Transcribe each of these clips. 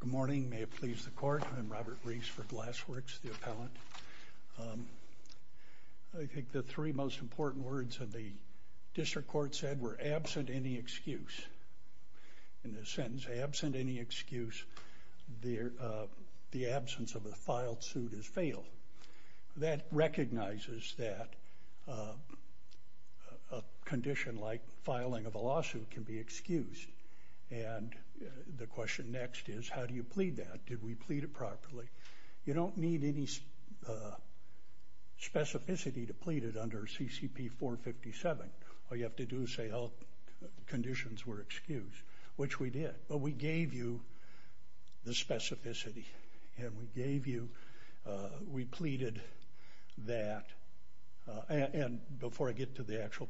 Good morning, may it please the court. I'm Robert Reese for Glasswerks, the appellant. I think the three most important words of the district court said were, absent any excuse. In this sentence, absent any excuse, the absence of a filed suit is fatal. That recognizes that a condition like filing of a lawsuit can be excused. And the question next is, how do you plead that? Did we plead it properly? You don't need any specificity to plead it under CCP 457. All you have to do is say, oh, conditions were excused, which we did, but we gave you the specificity. And we gave you, we pleaded that, and before I get to the answer,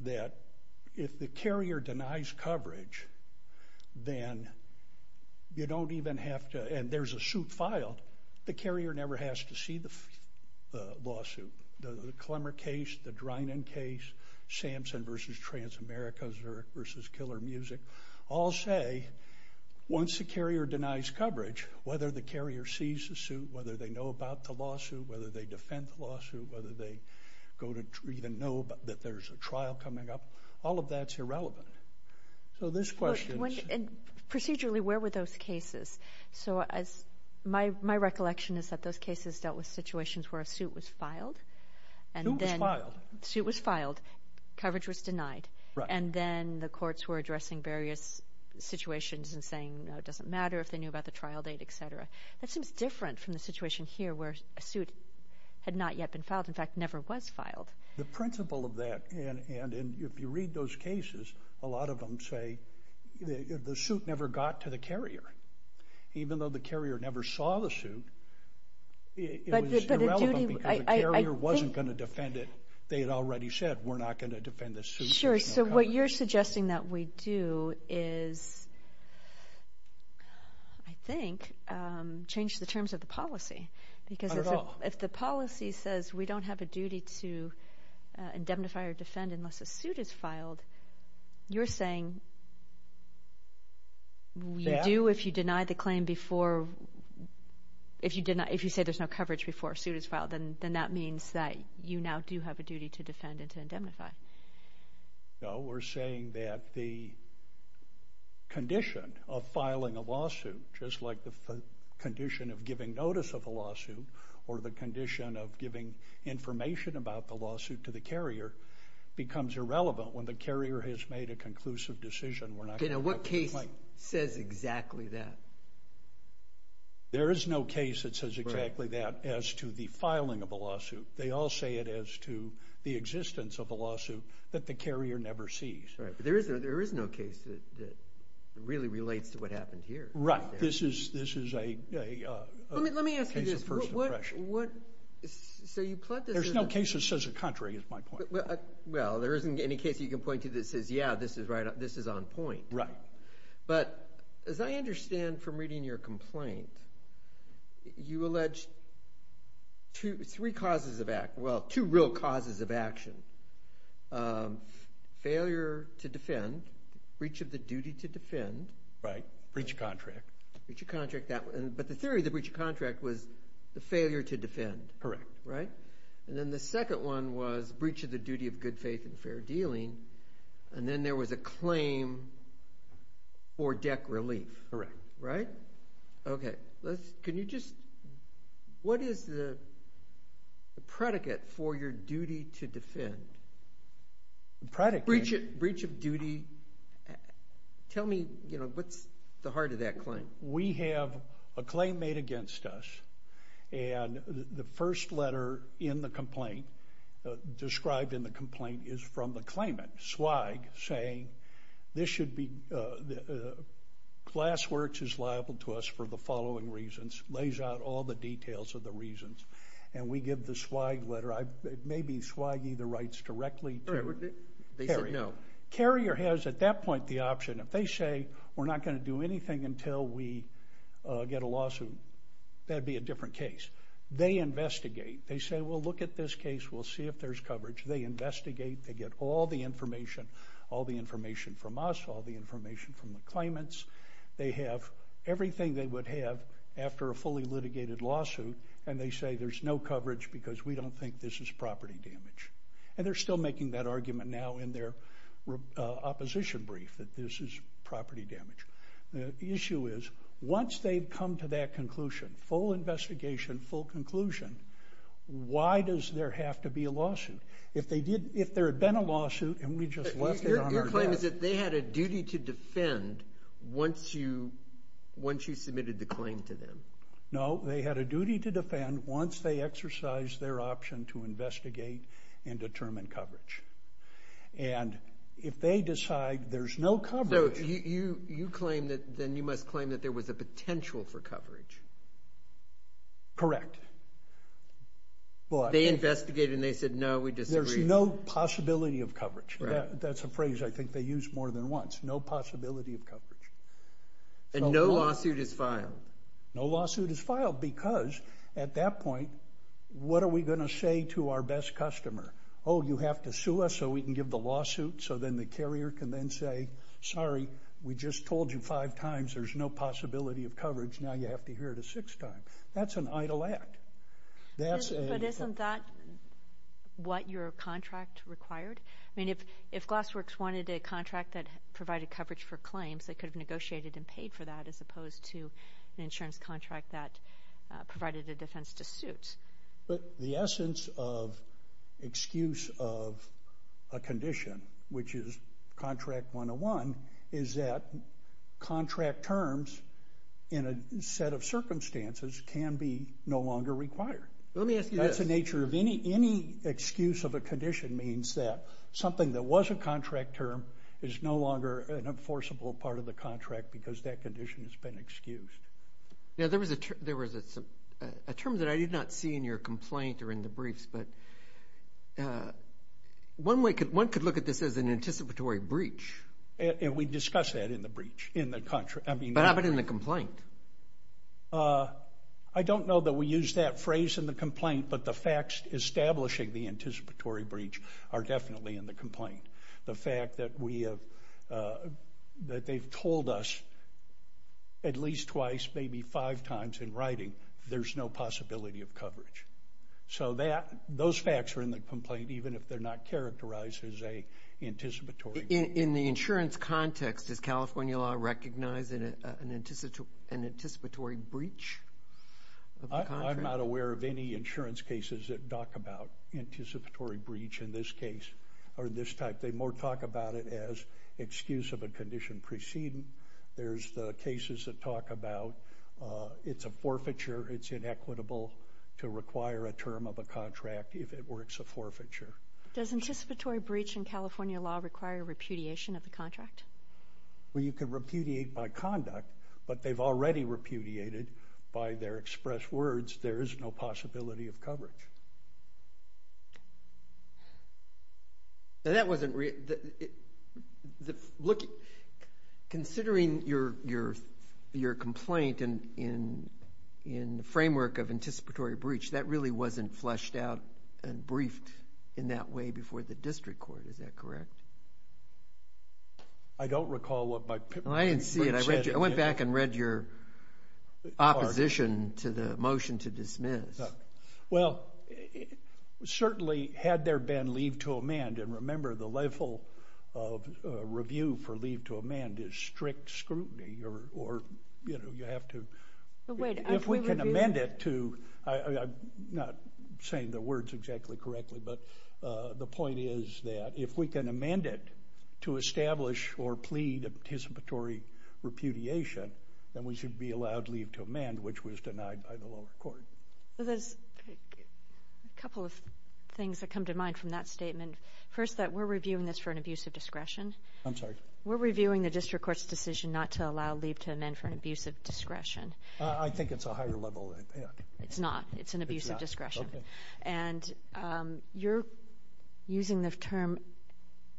that if the carrier denies coverage, then you don't even have to, and there's a suit filed, the carrier never has to see the lawsuit. The Clemmer case, the Drinan case, Samson v. Transamerica, Zurich v. Killer Music, all say, once the carrier denies coverage, whether the carrier sees the suit, whether they know about the lawsuit, whether they even know that there's a trial coming up, all of that's irrelevant. So this question's... And procedurally, where were those cases? So as, my recollection is that those cases dealt with situations where a suit was filed, and then... A suit was filed. A suit was filed, coverage was denied, and then the courts were addressing various situations and saying, no, it doesn't matter if they knew about the trial date, etc. That seems different from the situation here where a And if you read those cases, a lot of them say the suit never got to the carrier. Even though the carrier never saw the suit, it was irrelevant because the carrier wasn't going to defend it. They had already said, we're not going to defend the suit. Sure, so what you're suggesting that we do is, I think, change the terms of the policy. Not at all. If the policy says we don't have a duty to indemnify or defend unless a suit is filed, you're saying we do if you deny the claim before... If you say there's no coverage before a suit is filed, then that means that you now do have a duty to defend and to indemnify. No, we're saying that the condition of filing a lawsuit, just like the condition of giving notice of a lawsuit, or the condition of giving information about the lawsuit to the carrier, becomes irrelevant when the carrier has made a conclusive decision, we're not going to defend the claim. Okay, now what case says exactly that? There is no case that says exactly that as to the filing of a lawsuit. They all say it as to the existence of a lawsuit that the carrier never sees. Right, but there is no case that really relates to what happened here. Right, this is a case of first impression. Let me ask you this. There's no case that says the contrary, is my point. Well, there isn't any case you can point to that says, yeah, this is right, this is on point. Right. But, as I understand from reading your complaint, you allege two real causes of action. Failure to defend, breach of the duty to defend. Right, breach of contract. Breach of contract, but the theory of the breach of contract was the failure to defend. Correct. Right? And then the second one was breach of the duty of good faith and fair dealing, and then there was a claim for deck relief. Correct. Right? Okay, can you just, what is the predicate for your duty to defend? The predicate? Breach of duty, tell me, what's the heart of that claim? We have a claim made against us, and the first letter in the complaint, described in the complaint, is from the claimant, Swagg, saying this should be, Class Works is liable to us for the following reasons, lays out all the details of the reasons, and we give the Swagg letter. I've, it may be Swagg-y, the rights directly to Carrier. They said no. Carrier has, at that point, the option, if they say, we're not going to do anything until we get a lawsuit, that'd be a different case. They investigate. They say, we'll look at this case, we'll see if there's coverage. They investigate. They get all the information, all the information from us, all the information from the claimants. They have everything they would have after a fully litigated lawsuit, and they say there's no coverage, because we don't think this is property damage, and they're still making that argument now in their opposition brief, that this is property damage. The issue is, once they've come to that conclusion, full investigation, full conclusion, why does there have to be a lawsuit? If they did, if there had been a lawsuit, and we just left it on our desk. Your claim is that they had a duty to defend, once you, once you submitted the claim to them. No, they had a duty to defend, once they exercised their option to investigate and determine coverage. If they decide there's no coverage- So, you claim that, then you must claim that there was a potential for coverage. Correct. But- They investigated, and they said, no, we disagree. There's no possibility of coverage. That's a phrase I think they use more than once, no possibility of coverage. No lawsuit is filed. No lawsuit is filed, because at that point, what are we going to say to our best customer? Oh, you have to sue us so we can give the lawsuit, so then the carrier can then say, sorry, we just told you five times there's no possibility of coverage, now you have to hear it a sixth time. That's an idle act. That's a- But isn't that what your contract required? I mean, if Glassworks wanted a contract that provided coverage for claims, they could have an insurance contract that provided a defense to suit. But the essence of excuse of a condition, which is contract 101, is that contract terms in a set of circumstances can be no longer required. Let me ask you this- That's the nature of any excuse of a condition means that something that was a contract term is no longer an enforceable part of the contract because that condition has been excused. Now, there was a term that I did not see in your complaint or in the briefs, but one could look at this as an anticipatory breach. We discussed that in the breach, in the contract. I mean- What happened in the complaint? I don't know that we used that phrase in the complaint, but the facts establishing the anticipatory breach are definitely in the complaint. The fact that they've told us at least twice, maybe five times in writing, there's no possibility of coverage. So those facts are in the complaint, even if they're not characterized as a anticipatory breach. In the insurance context, does California law recognize an anticipatory breach of the contract? I'm not aware of any insurance cases that talk about anticipatory breach in this case In fact, they more talk about it as excuse of a condition preceding. There's the cases that talk about it's a forfeiture, it's inequitable to require a term of a contract if it works a forfeiture. Does anticipatory breach in California law require repudiation of the contract? Well, you can repudiate by conduct, but they've already repudiated by their expressed words, there is no possibility of coverage. Considering your complaint in the framework of anticipatory breach, that really wasn't fleshed out and briefed in that way before the district court, is that correct? I don't recall what my pipeline said. I didn't see it. I went back and read your opposition to the motion to dismiss. Well, certainly had there been leave to amend, and remember the level of review for leave to amend is strict scrutiny, or you have to, if we can amend it to, I'm not saying the words exactly correctly, but the point is that if we can amend it to establish or plead anticipatory repudiation, then we should be allowed leave to amend, which was denied by the lower court. There's a couple of things that come to mind from that statement. First that we're reviewing this for an abuse of discretion. We're reviewing the district court's decision not to allow leave to amend for an abuse of discretion. I think it's a higher level. It's not. It's an abuse of discretion. And you're using the term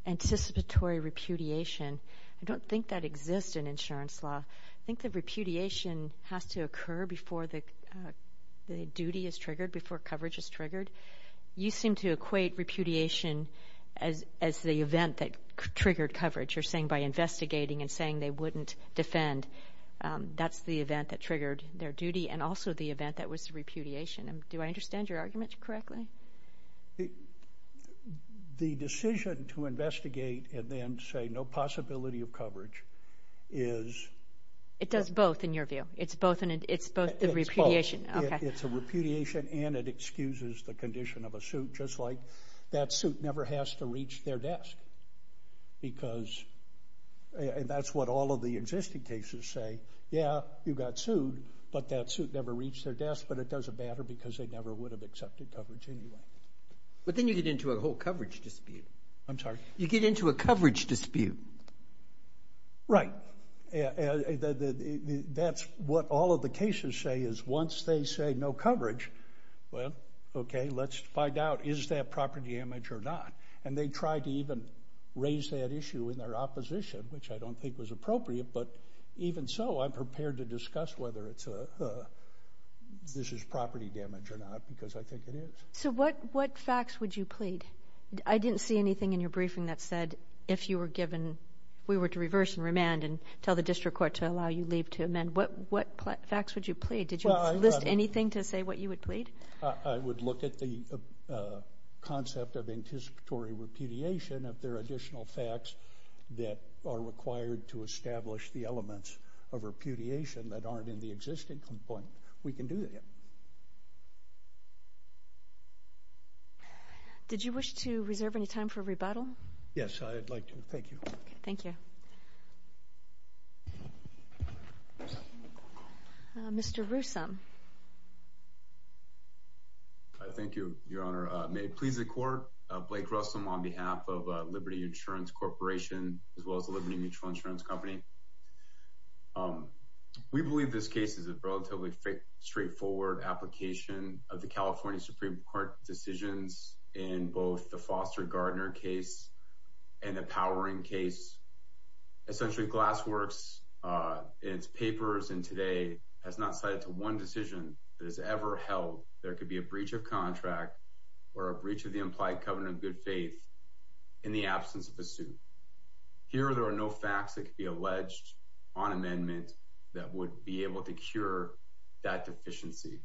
anticipatory repudiation, I don't think that exists in insurance law. I think that repudiation has to occur before the duty is triggered, before coverage is triggered. You seem to equate repudiation as the event that triggered coverage. You're saying by investigating and saying they wouldn't defend, that's the event that triggered their duty, and also the event that was repudiation. Do I understand your argument correctly? The decision to investigate and then say no possibility of coverage is... It does both in your view. It's both the repudiation. It's a repudiation and it excuses the condition of a suit, just like that suit never has to reach their desk, because that's what all of the existing cases say, yeah, you got sued, but that suit never reached their desk, but it doesn't matter because they never would have accepted coverage anyway. But then you get into a whole coverage dispute. I'm sorry? You get into a coverage dispute. Right. That's what all of the cases say, is once they say no coverage, well, okay, let's find out is that property damage or not. And they tried to even raise that issue in their opposition, which I don't think was appropriate, but even so, I'm prepared to discuss whether this is property damage or not. Yes, I think it is. So what facts would you plead? I didn't see anything in your briefing that said if you were given, if we were to reverse and remand and tell the district court to allow you leave to amend, what facts would you plead? Did you list anything to say what you would plead? I would look at the concept of anticipatory repudiation. If there are additional facts that are required to establish the elements of repudiation that I would not. Did you wish to reserve any time for rebuttal? Yes, I'd like to. Thank you. Thank you. Mr. Rousom. Thank you, Your Honor. May it please the court. Blake Rousom on behalf of Liberty Insurance Corporation as well as the Liberty Mutual Insurance Company. Um, we believe this case is a relatively straightforward application of the California Supreme Court decisions in both the Foster Gardner case and the powering case, essentially glassworks. Uh, it's papers and today has not cited to one decision that has ever held. There could be a breach of contract or a breach of the implied covenant of good faith in the absence of a suit. Here there are no facts that could be alleged on amendment that would be able to cure that deficiency.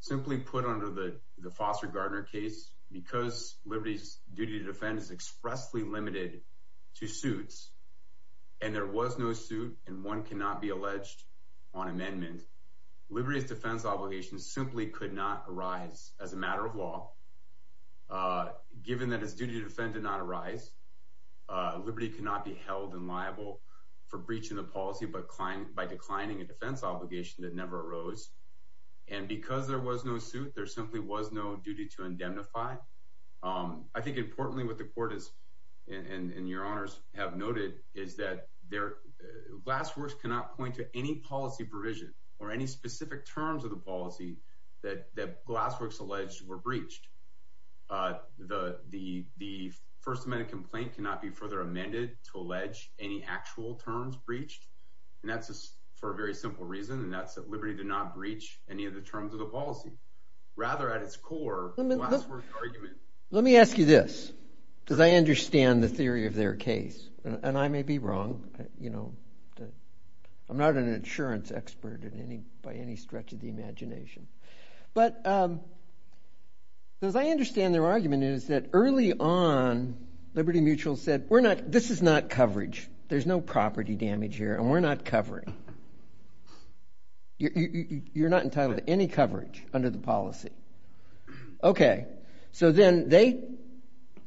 Simply put under the Foster Gardner case, because Liberty's duty to defend is expressly limited to suits and there was no suit and one cannot be alleged on amendment, Liberty's defense obligations simply could not arise as a matter of law, uh, given that it's duty to defend did not arise, uh, Liberty cannot be held and liable for breaching the policy, but client by declining a defense obligation that never arose. And because there was no suit, there simply was no duty to indemnify. Um, I think importantly what the court is and your honors have noted is that there glassworks cannot point to any policy provision or any specific terms of the policy that that glassworks alleged were breached. Uh, the, the, the first amendment complaint cannot be further amended to allege any actual terms breached and that's for a very simple reason and that's that Liberty did not breach any of the terms of the policy. Rather at its core, glasswork argument. Let me ask you this, because I understand the theory of their case and I may be wrong, you know, I'm not an insurance expert in any, by any stretch of the imagination. But, um, as I understand their argument is that early on Liberty Mutual said, we're not, this is not coverage. There's no property damage here and we're not covering, you're not entitled to any coverage under the policy. Okay. So then they,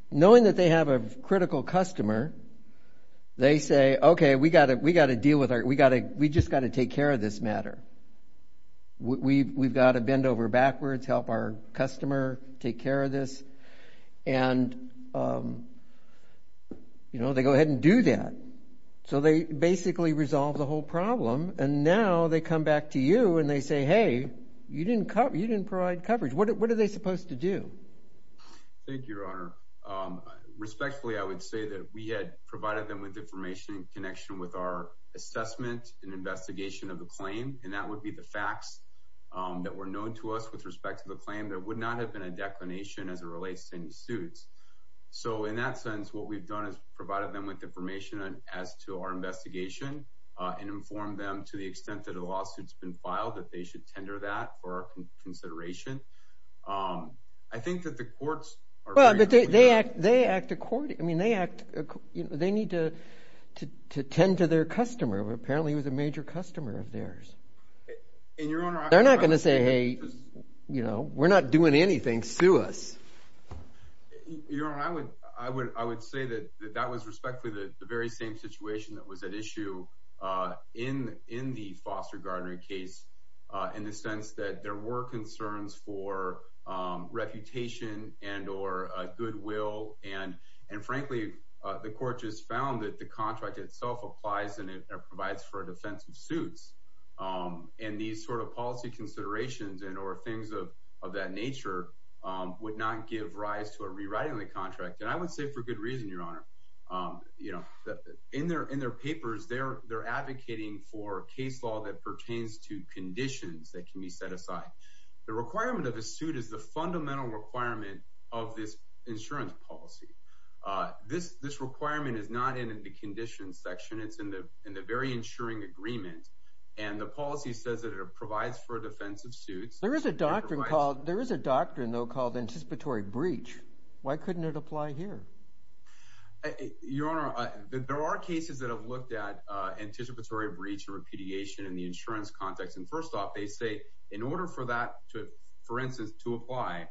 knowing that they have a critical customer, they say, okay, we got to, we got to deal with our, we got to, we just got to take care of this matter. We've, we've got to bend over backwards, help our customer take care of this. And, um, you know, they go ahead and do that. So they basically resolve the whole problem and now they come back to you and they say, hey, you didn't cover, you didn't provide coverage. What, what are they supposed to do? Thank you, your honor. Um, respectfully, I would say that we had provided them with information in connection with our assessment and investigation of the claim. And that would be the facts that were known to us with respect to the claim. There would not have been a declination as it relates to any suits. So in that sense, what we've done is provided them with information as to our investigation and inform them to the extent that a lawsuit has been filed, that they should tender that for our consideration. Um, I think that the courts are- Well, they act, they act according, I mean, they act, you know, they need to, to, to tend to their customer. Apparently it was a major customer of theirs. And your honor, I would say that- They're not going to say, hey, you know, we're not doing anything, sue us. Your honor, I would, I would, I would say that that was respectfully the very same situation that was at issue, uh, in, in the Foster Gardner case, uh, in the sense that there were concerns for, um, reputation and, or, uh, goodwill and, and frankly, uh, the court just found that the contract itself applies and it provides for a defensive suits, um, and these sort of policy considerations and, or things of, of that nature, um, would not give rise to a rewriting of the contract. And I would say for good reason, your honor, um, you know, in their, in their papers, they're, they're advocating for case law that pertains to conditions that can be set aside. The requirement of a suit is the fundamental requirement of this insurance policy. Uh, this, this requirement is not in the condition section. It's in the, in the very insuring agreement and the policy says that it provides for defensive suits. There is a doctrine called, there is a doctrine though called anticipatory breach. Why couldn't it apply here? Your honor, there are cases that have looked at, uh, anticipatory breach and repudiation in the insurance context. And first off, they say in order for that to, for instance, to apply,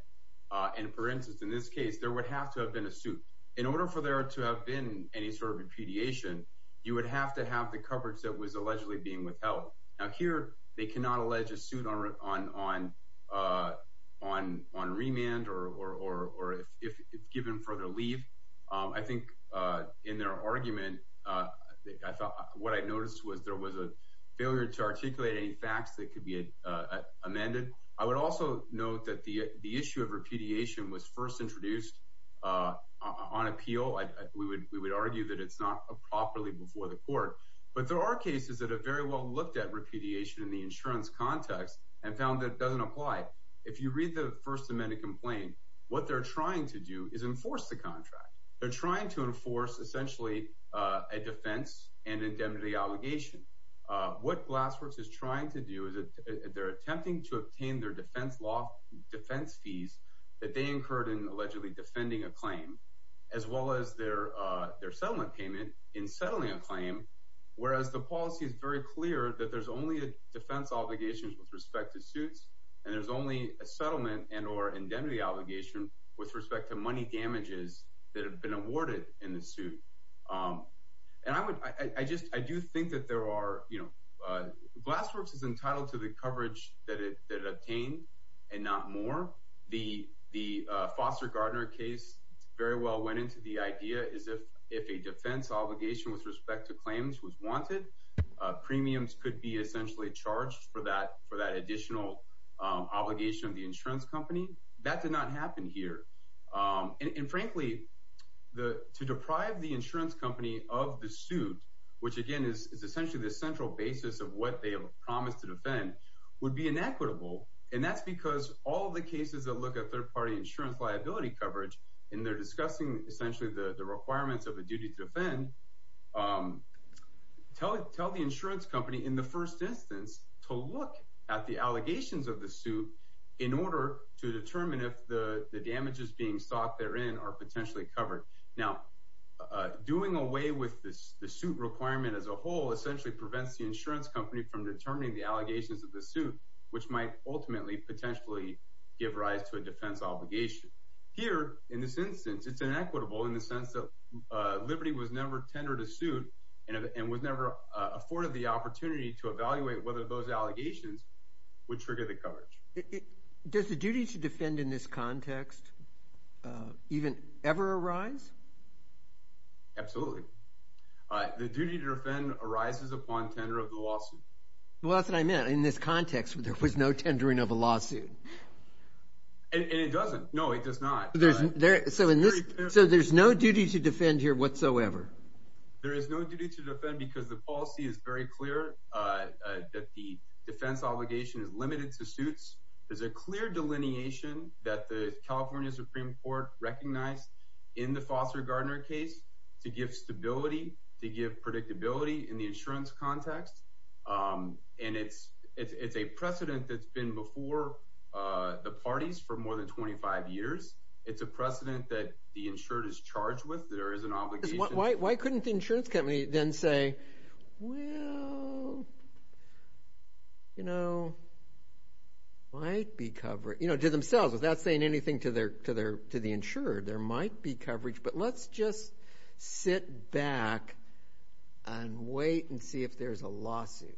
uh, and for instance, in this case, there would have to have been a suit in order for there to have been any sort of repudiation, you would have to have the coverage that was allegedly being withheld. Now here they cannot allege a suit on, on, on, uh, on, on remand or, or, or if it's given further leave. Um, I think, uh, in their argument, uh, I thought what I noticed was there was a failure to articulate any facts that could be, uh, amended. I would also note that the, the issue of repudiation was first introduced, uh, on appeal. I, we would, we would argue that it's not properly before the court, but there are cases that are very well looked at repudiation in the insurance context and found that it doesn't apply. If you read the first amendment complaint, what they're trying to do is enforce the contract. They're trying to enforce essentially, uh, a defense and indemnity obligation. Uh, what Glassworks is trying to do is they're attempting to obtain their defense law defense fees that they incurred in allegedly defending a claim as well as their, uh, their settlement payment in settling a claim. Whereas the policy is very clear that there's only a defense obligations with respect to suits and there's only a settlement and or indemnity obligation with respect to money damages that have been awarded in the suit. Um, and I would, I just, I do think that there are, you know, uh, Glassworks is entitled to the coverage that it, that it obtained and not more. The, the, uh, Foster Gardner case very well went into the idea is if, if a defense obligation with respect to claims was wanted, uh, premiums could be essentially charged for that, for that additional, um, obligation of the insurance company that did not happen here. Um, and, and frankly, the, to deprive the insurance company of the suit, which again is essentially the central basis of what they have promised to defend would be inequitable. And that's because all of the cases that look at third party insurance liability coverage and they're discussing essentially the requirements of a duty to defend, um, tell it, tell the insurance company in the first instance to look at the allegations of the suit in order to determine if the, the damages being sought therein are potentially covered. Now, uh, doing away with this, the suit requirement as a whole essentially prevents the insurance company from determining the allegations of the suit, which might ultimately potentially give rise to a defense obligation here. In this instance, it's inequitable in the sense that, uh, Liberty was never tendered a suit and, and was never afforded the opportunity to evaluate whether those allegations would trigger the coverage. Does the duty to defend in this context, uh, even ever arise? Absolutely. Uh, the duty to defend arises upon tender of the lawsuit. Well, that's what I meant. In this context, there was no tendering of a lawsuit. And it doesn't. No, it does not. There, so in this, so there's no duty to defend here whatsoever. There is no duty to defend because the policy is very clear, uh, uh, that the defense obligation is limited to suits. There's a clear delineation that the California Supreme Court recognized in the Foster Gardner case to give stability, to give predictability in the insurance context. Um, and it's, it's, it's a precedent that's been before, uh, the parties for more than 25 years. It's a precedent that the insured is charged with. There is an obligation. Why, why, why couldn't the insurance company then say, well, you know, might be covered? You know, to themselves, without saying anything to their, to their, to the insured, there might be coverage. But let's just sit back and wait and see if there's a lawsuit.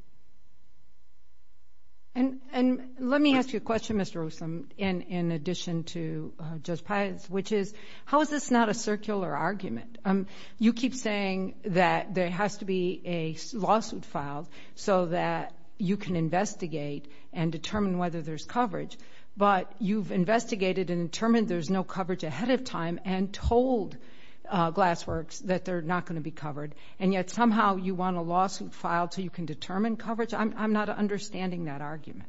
And, and let me ask you a question, Mr. Olson, in, in addition to, uh, Judge Pius, which is, how is this not a circular argument? Um, you keep saying that there has to be a lawsuit filed so that you can investigate and determine whether there's coverage. But you've investigated and determined there's no coverage ahead of time and told, uh, Glassworks that they're not going to be covered. And yet somehow you want a lawsuit filed so you can determine coverage? I'm, I'm not understanding that argument.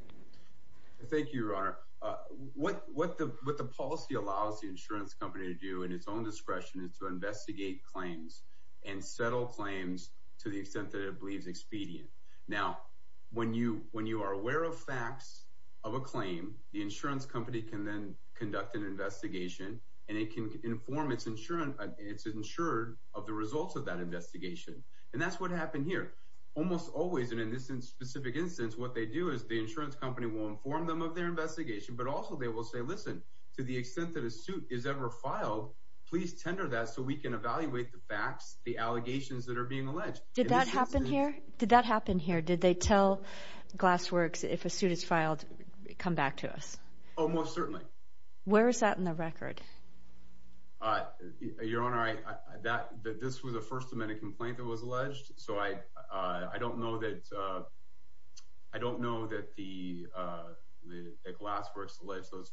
Thank you, Your Honor. Uh, what, what the, what the policy allows the insurance company to do in its own discretion is to investigate claims and settle claims to the extent that it believes expedient. Now, when you, when you are aware of facts of a claim, the insurance company can then conduct an investigation and it can inform its insurance. It's insured of the results of that investigation. And that's what happened here. Almost always. And in this specific instance, what they do is the insurance company will inform them of their investigation, but also they will say, listen, to the extent that a suit is ever filed, please tender that so we can evaluate the facts, the allegations that are being alleged. Did that happen here? Did that happen here? Did they tell Glassworks if a suit is filed, come back to us? Oh, most certainly. Where is that in the record? Uh, Your Honor, I, that, that this was a first amendment complaint that was alleged. So I, uh, I don't know that, uh, I don't know that the, uh, the Glassworks alleged those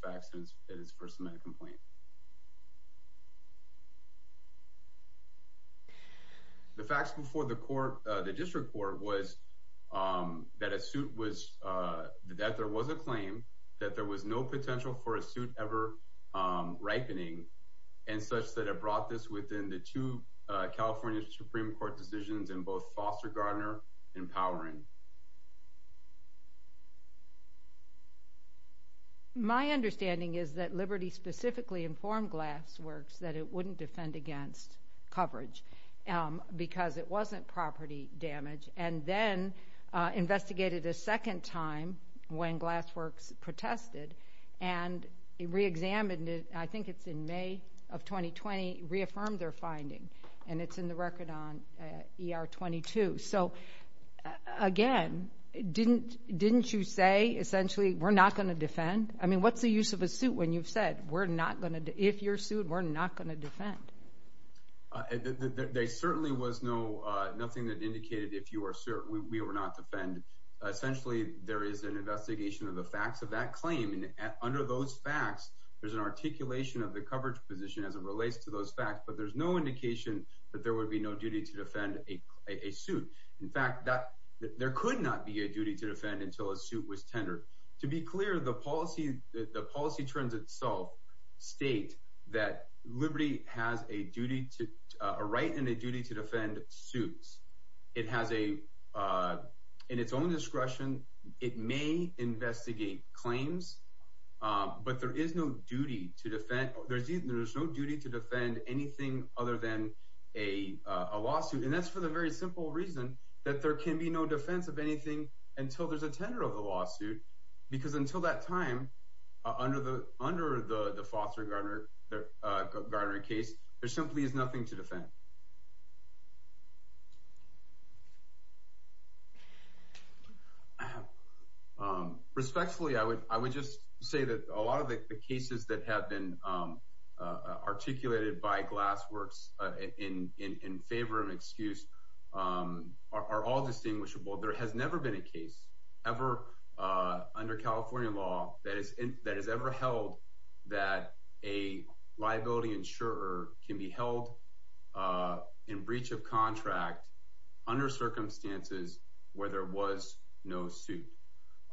The facts before the court, uh, the district court was, um, that a suit was, uh, that there was a claim that there was no potential for a suit ever, um, ripening and such that it brought this within the two, uh, California Supreme Court decisions in both Foster Gardner and Powering. My understanding is that Liberty specifically informed Glassworks that it wouldn't defend against coverage, um, because it wasn't property damage, and then, uh, investigated a second time when Glassworks protested and reexamined it, I think it's in May of 2020, reaffirmed their finding, and it's in the record on, uh, ER 22. So, again, didn't, didn't you say, essentially, we're not going to defend? I mean, what's the use of a suit when you've said, we're not going to, if you're sued, we're not going to defend? Uh, there, there, there certainly was no, uh, nothing that indicated if you were sued, we, we would not defend. Essentially, there is an investigation of the facts of that claim, and under those facts, there's an articulation of the coverage position as it relates to those facts, but there's no indication that there would be no duty to defend a, a suit. In fact, that, there could not be a duty to defend until a suit was tendered. To be clear, the policy, the policy terms itself state that Liberty has a duty to, uh, a right and a duty to defend suits. It has a, uh, in its own discretion, it may investigate claims, um, but there is no duty to defend, there's, there's no duty to defend anything other than a, uh, a lawsuit. And that's for the very simple reason that there can be no defense of anything until there's a tender of the lawsuit, because until that time, uh, under the, under the, the Foster Gardner, uh, Gardner case, there simply is nothing to defend. Um, respectfully, I would, I would just say that a lot of the, the cases that have been um, uh, articulated by Glassworks, uh, in, in, in favor of an excuse, um, are, are all distinguishable. There has never been a case ever, uh, under California law that is, that is ever held that a liability insurer can be held, uh, in breach of contract under circumstances where there was no suit.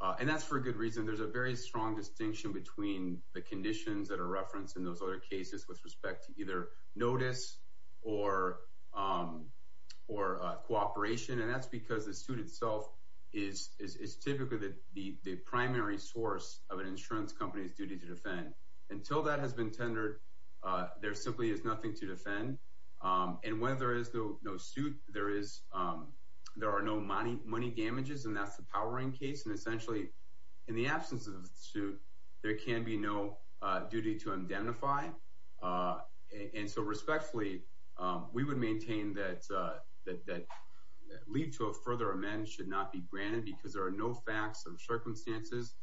Uh, and that's for a good reason. There's a very strong distinction between the conditions that are referenced in those other cases with respect to either notice or, um, or, uh, cooperation. And that's because the suit itself is, is, is typically the, the, the primary source of an insurance company's duty to defend. Until that has been tendered, uh, there simply is nothing to defend. Um, and when there is no, no suit, there is, um, there are no money, money damages, and that's the powering case. And essentially in the absence of the suit, there can be no, uh, duty to indemnify. Uh, and so respectfully, um, we would maintain that, uh, that, that lead to a further amendment should not be granted because there are no facts or circumstances,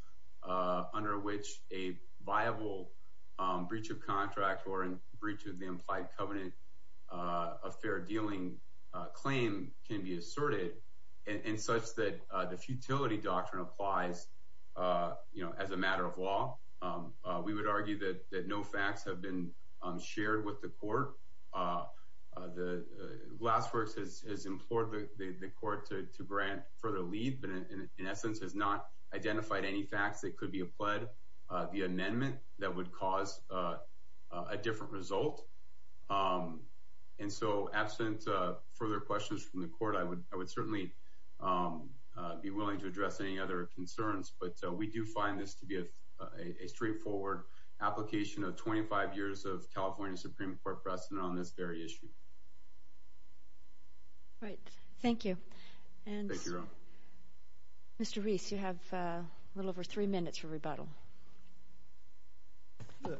uh, under which a viable, um, breach of contract or in breach of the implied covenant, uh, a fair dealing, uh, claim can be asserted in, in such that, uh, the futility doctrine applies, uh, you know, as a matter of law. Um, uh, we would argue that, that no facts have been, um, shared with the court. Uh, uh, the, uh, Glassworks has, has implored the, the, the court to, to grant further lead, but in essence has not identified any facts that could be applied, uh, the amendment that would cause, uh, uh, a different result. Um, and so absent, uh, further questions from the court, I would, I would certainly, um, uh, be willing to address any other concerns, but, uh, we do find this to be a, a, a straightforward application of 25 years of California Supreme Court precedent on this very issue. Right. Thank you. And Mr. Reese, you have a little over three minutes for rebuttal. Uh,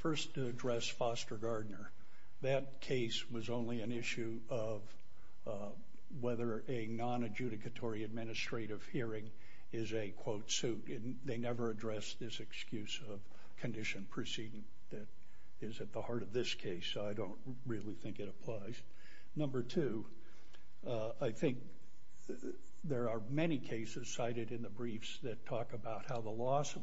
first to address Foster Gardner. That case was only an issue of, uh, whether a non-adjudicatory administrative hearing is a quote suit. They never addressed this excuse of condition proceeding that is at the heart of this case, so I don't really think it applies. Number two, uh, I think there are many cases cited in the briefs that talk about how the loss of,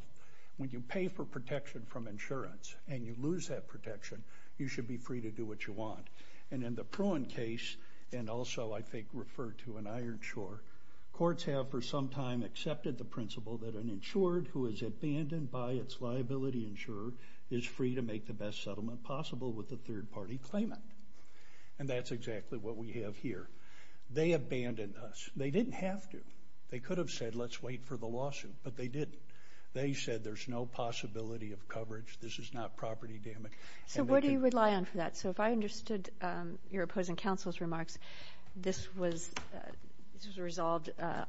when you pay for protection from insurance and you lose that protection, you should be free to do what you want. And in the Pruan case, and also I think referred to in Iron Shore, courts have for some time accepted the principle that an insured who is abandoned by its liability insurer is free to make the best settlement possible with a third party claimant. And that's exactly what we have here. They abandoned us. They didn't have to. They could have said let's wait for the lawsuit, but they didn't. They said there's no possibility of coverage, this is not property damage. So where do you rely on for that? So if I understood, um, your opposing counsel's remarks, this was, uh, this was resolved, uh,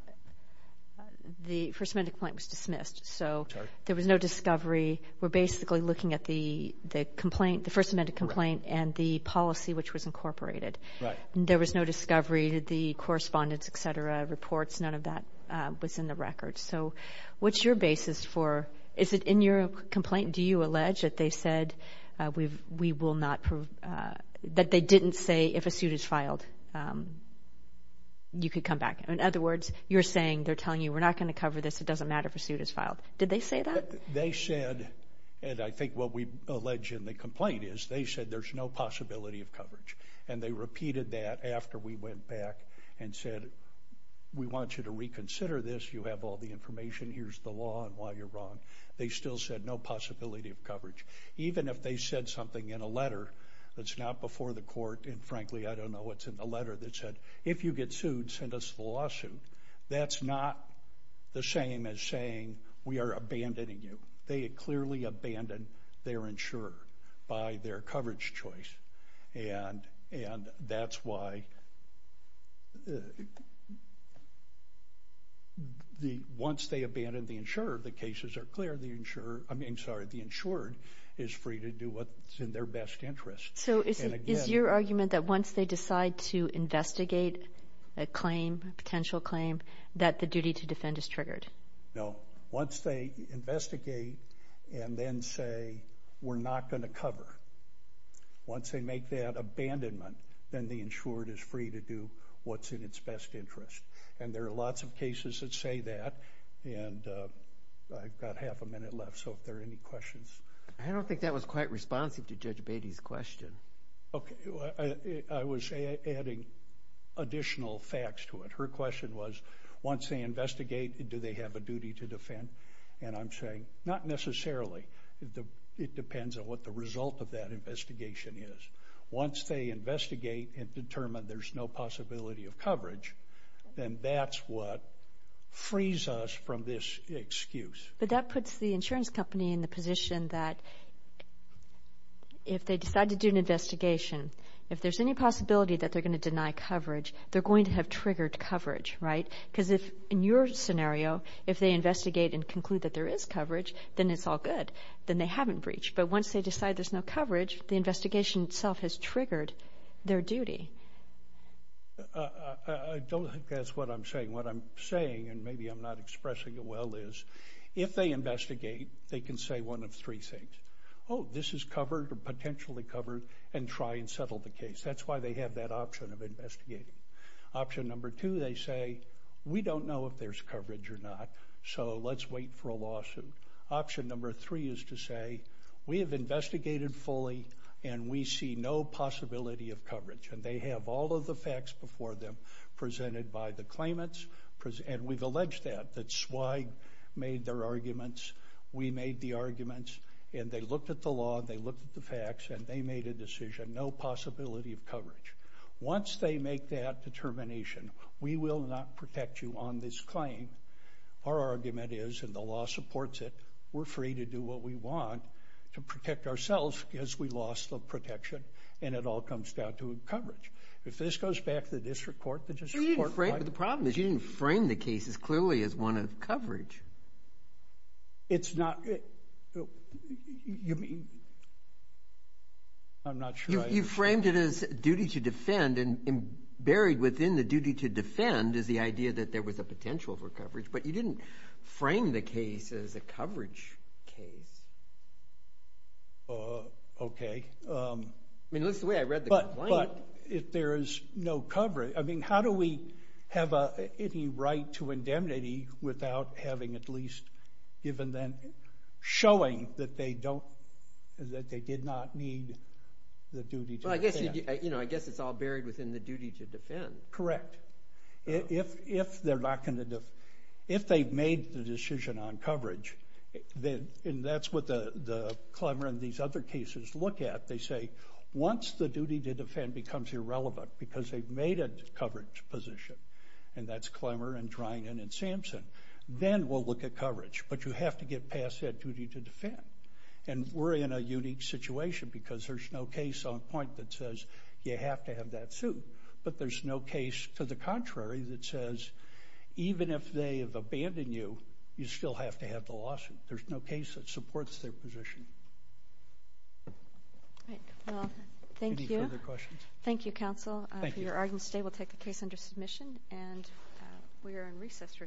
the First Amendment complaint was dismissed. So there was no discovery. We're basically looking at the complaint, the First Amendment complaint and the policy which was incorporated. There was no discovery, the correspondence, et cetera, reports, none of that was in the record. So what's your basis for, is it in your complaint, do you allege that they said, uh, we will not prove, uh, that they didn't say if a suit is filed, um, you could come back. In other words, you're saying, they're telling you we're not going to cover this, it doesn't matter if a suit is filed. Did they say that? They said, and I think what we allege in the complaint is, they said there's no possibility of coverage. And they repeated that after we went back and said, we want you to reconsider this, you have all the information, here's the law and why you're wrong. They still said no possibility of coverage. Even if they said something in a letter that's not before the court, and frankly, I don't know what's in the letter that said, if you get sued, send us the lawsuit, that's not the same as saying we are abandoning you. They had clearly abandoned their insurer by their coverage choice. And, and that's why the, once they abandon the insurer, the cases are clear, the insurer, I mean, sorry, the insurer is free to do what's in their best interest. So is it, is your argument that once they decide to investigate a claim, potential claim, that the duty to defend is triggered? No. Once they investigate and then say, we're not going to cover, once they make that abandonment, then the insured is free to do what's in its best interest. And there are lots of cases that say that, and I've got half a minute left, so if there are any questions. I don't think that was quite responsive to Judge Beatty's question. Okay. I was adding additional facts to it. Her question was, once they investigate, do they have a duty to defend? And I'm saying, not necessarily. It depends on what the result of that investigation is. Once they investigate and determine there's no possibility of coverage, then that's what frees us from this excuse. But that puts the insurance company in the position that if they decide to do an investigation, if there's any possibility that they're going to deny coverage, they're going to have triggered coverage, right? Because in your scenario, if they investigate and conclude that there is coverage, then it's all good. Then they haven't breached. But once they decide there's no coverage, the investigation itself has triggered their duty. I don't think that's what I'm saying. What I'm saying, and maybe I'm not expressing it well, is if they investigate, they can say one of three things. Oh, this is covered, or potentially covered, and try and settle the case. That's why they have that option of investigating. Option number two, they say, we don't know if there's coverage or not, so let's wait for a lawsuit. Option number three is to say, we have investigated fully, and we see no possibility of coverage. And they have all of the facts before them, presented by the claimants, and we've alleged that, that SWAG made their arguments, we made the arguments, and they looked at the law, they looked at the facts, and they made a decision, no possibility of coverage. Once they make that determination, we will not protect you on this claim. Our argument is, and the law supports it, we're free to do what we want to protect ourselves, because we lost the protection, and it all comes down to coverage. If this goes back to the district court, the district court might… But the problem is, you didn't frame the case as clearly as one of coverage. It's not… You mean… I'm not sure I… You framed it as duty to defend, and buried within the duty to defend is the idea that there was a potential for coverage, but you didn't frame the case as a coverage case. Okay. I mean, at least the way I read the complaint… But if there is no coverage, I mean, how do we have any right to indemnity without having at least given them… Showing that they don't… That they did not need the duty to defend. Well, I guess it's all buried within the duty to defend. Correct. If they're not going to… If they've made the decision on coverage, and that's what the Clemmer and these other cases look at, they say, once the duty to defend becomes irrelevant, because they've made a coverage position, and that's Clemmer and Dreynan and Sampson, then we'll look at coverage. But you have to get past that duty to defend. And we're in a unique situation, because there's no case on point that says you have to have that suit. But there's no case to the contrary that says, even if they have abandoned you, you still have to have the lawsuit. There's no case that supports their position. All right. Well, thank you. Any further questions? Thank you, counsel. For your audience today, we'll take the case under submission. And we are in recess for today.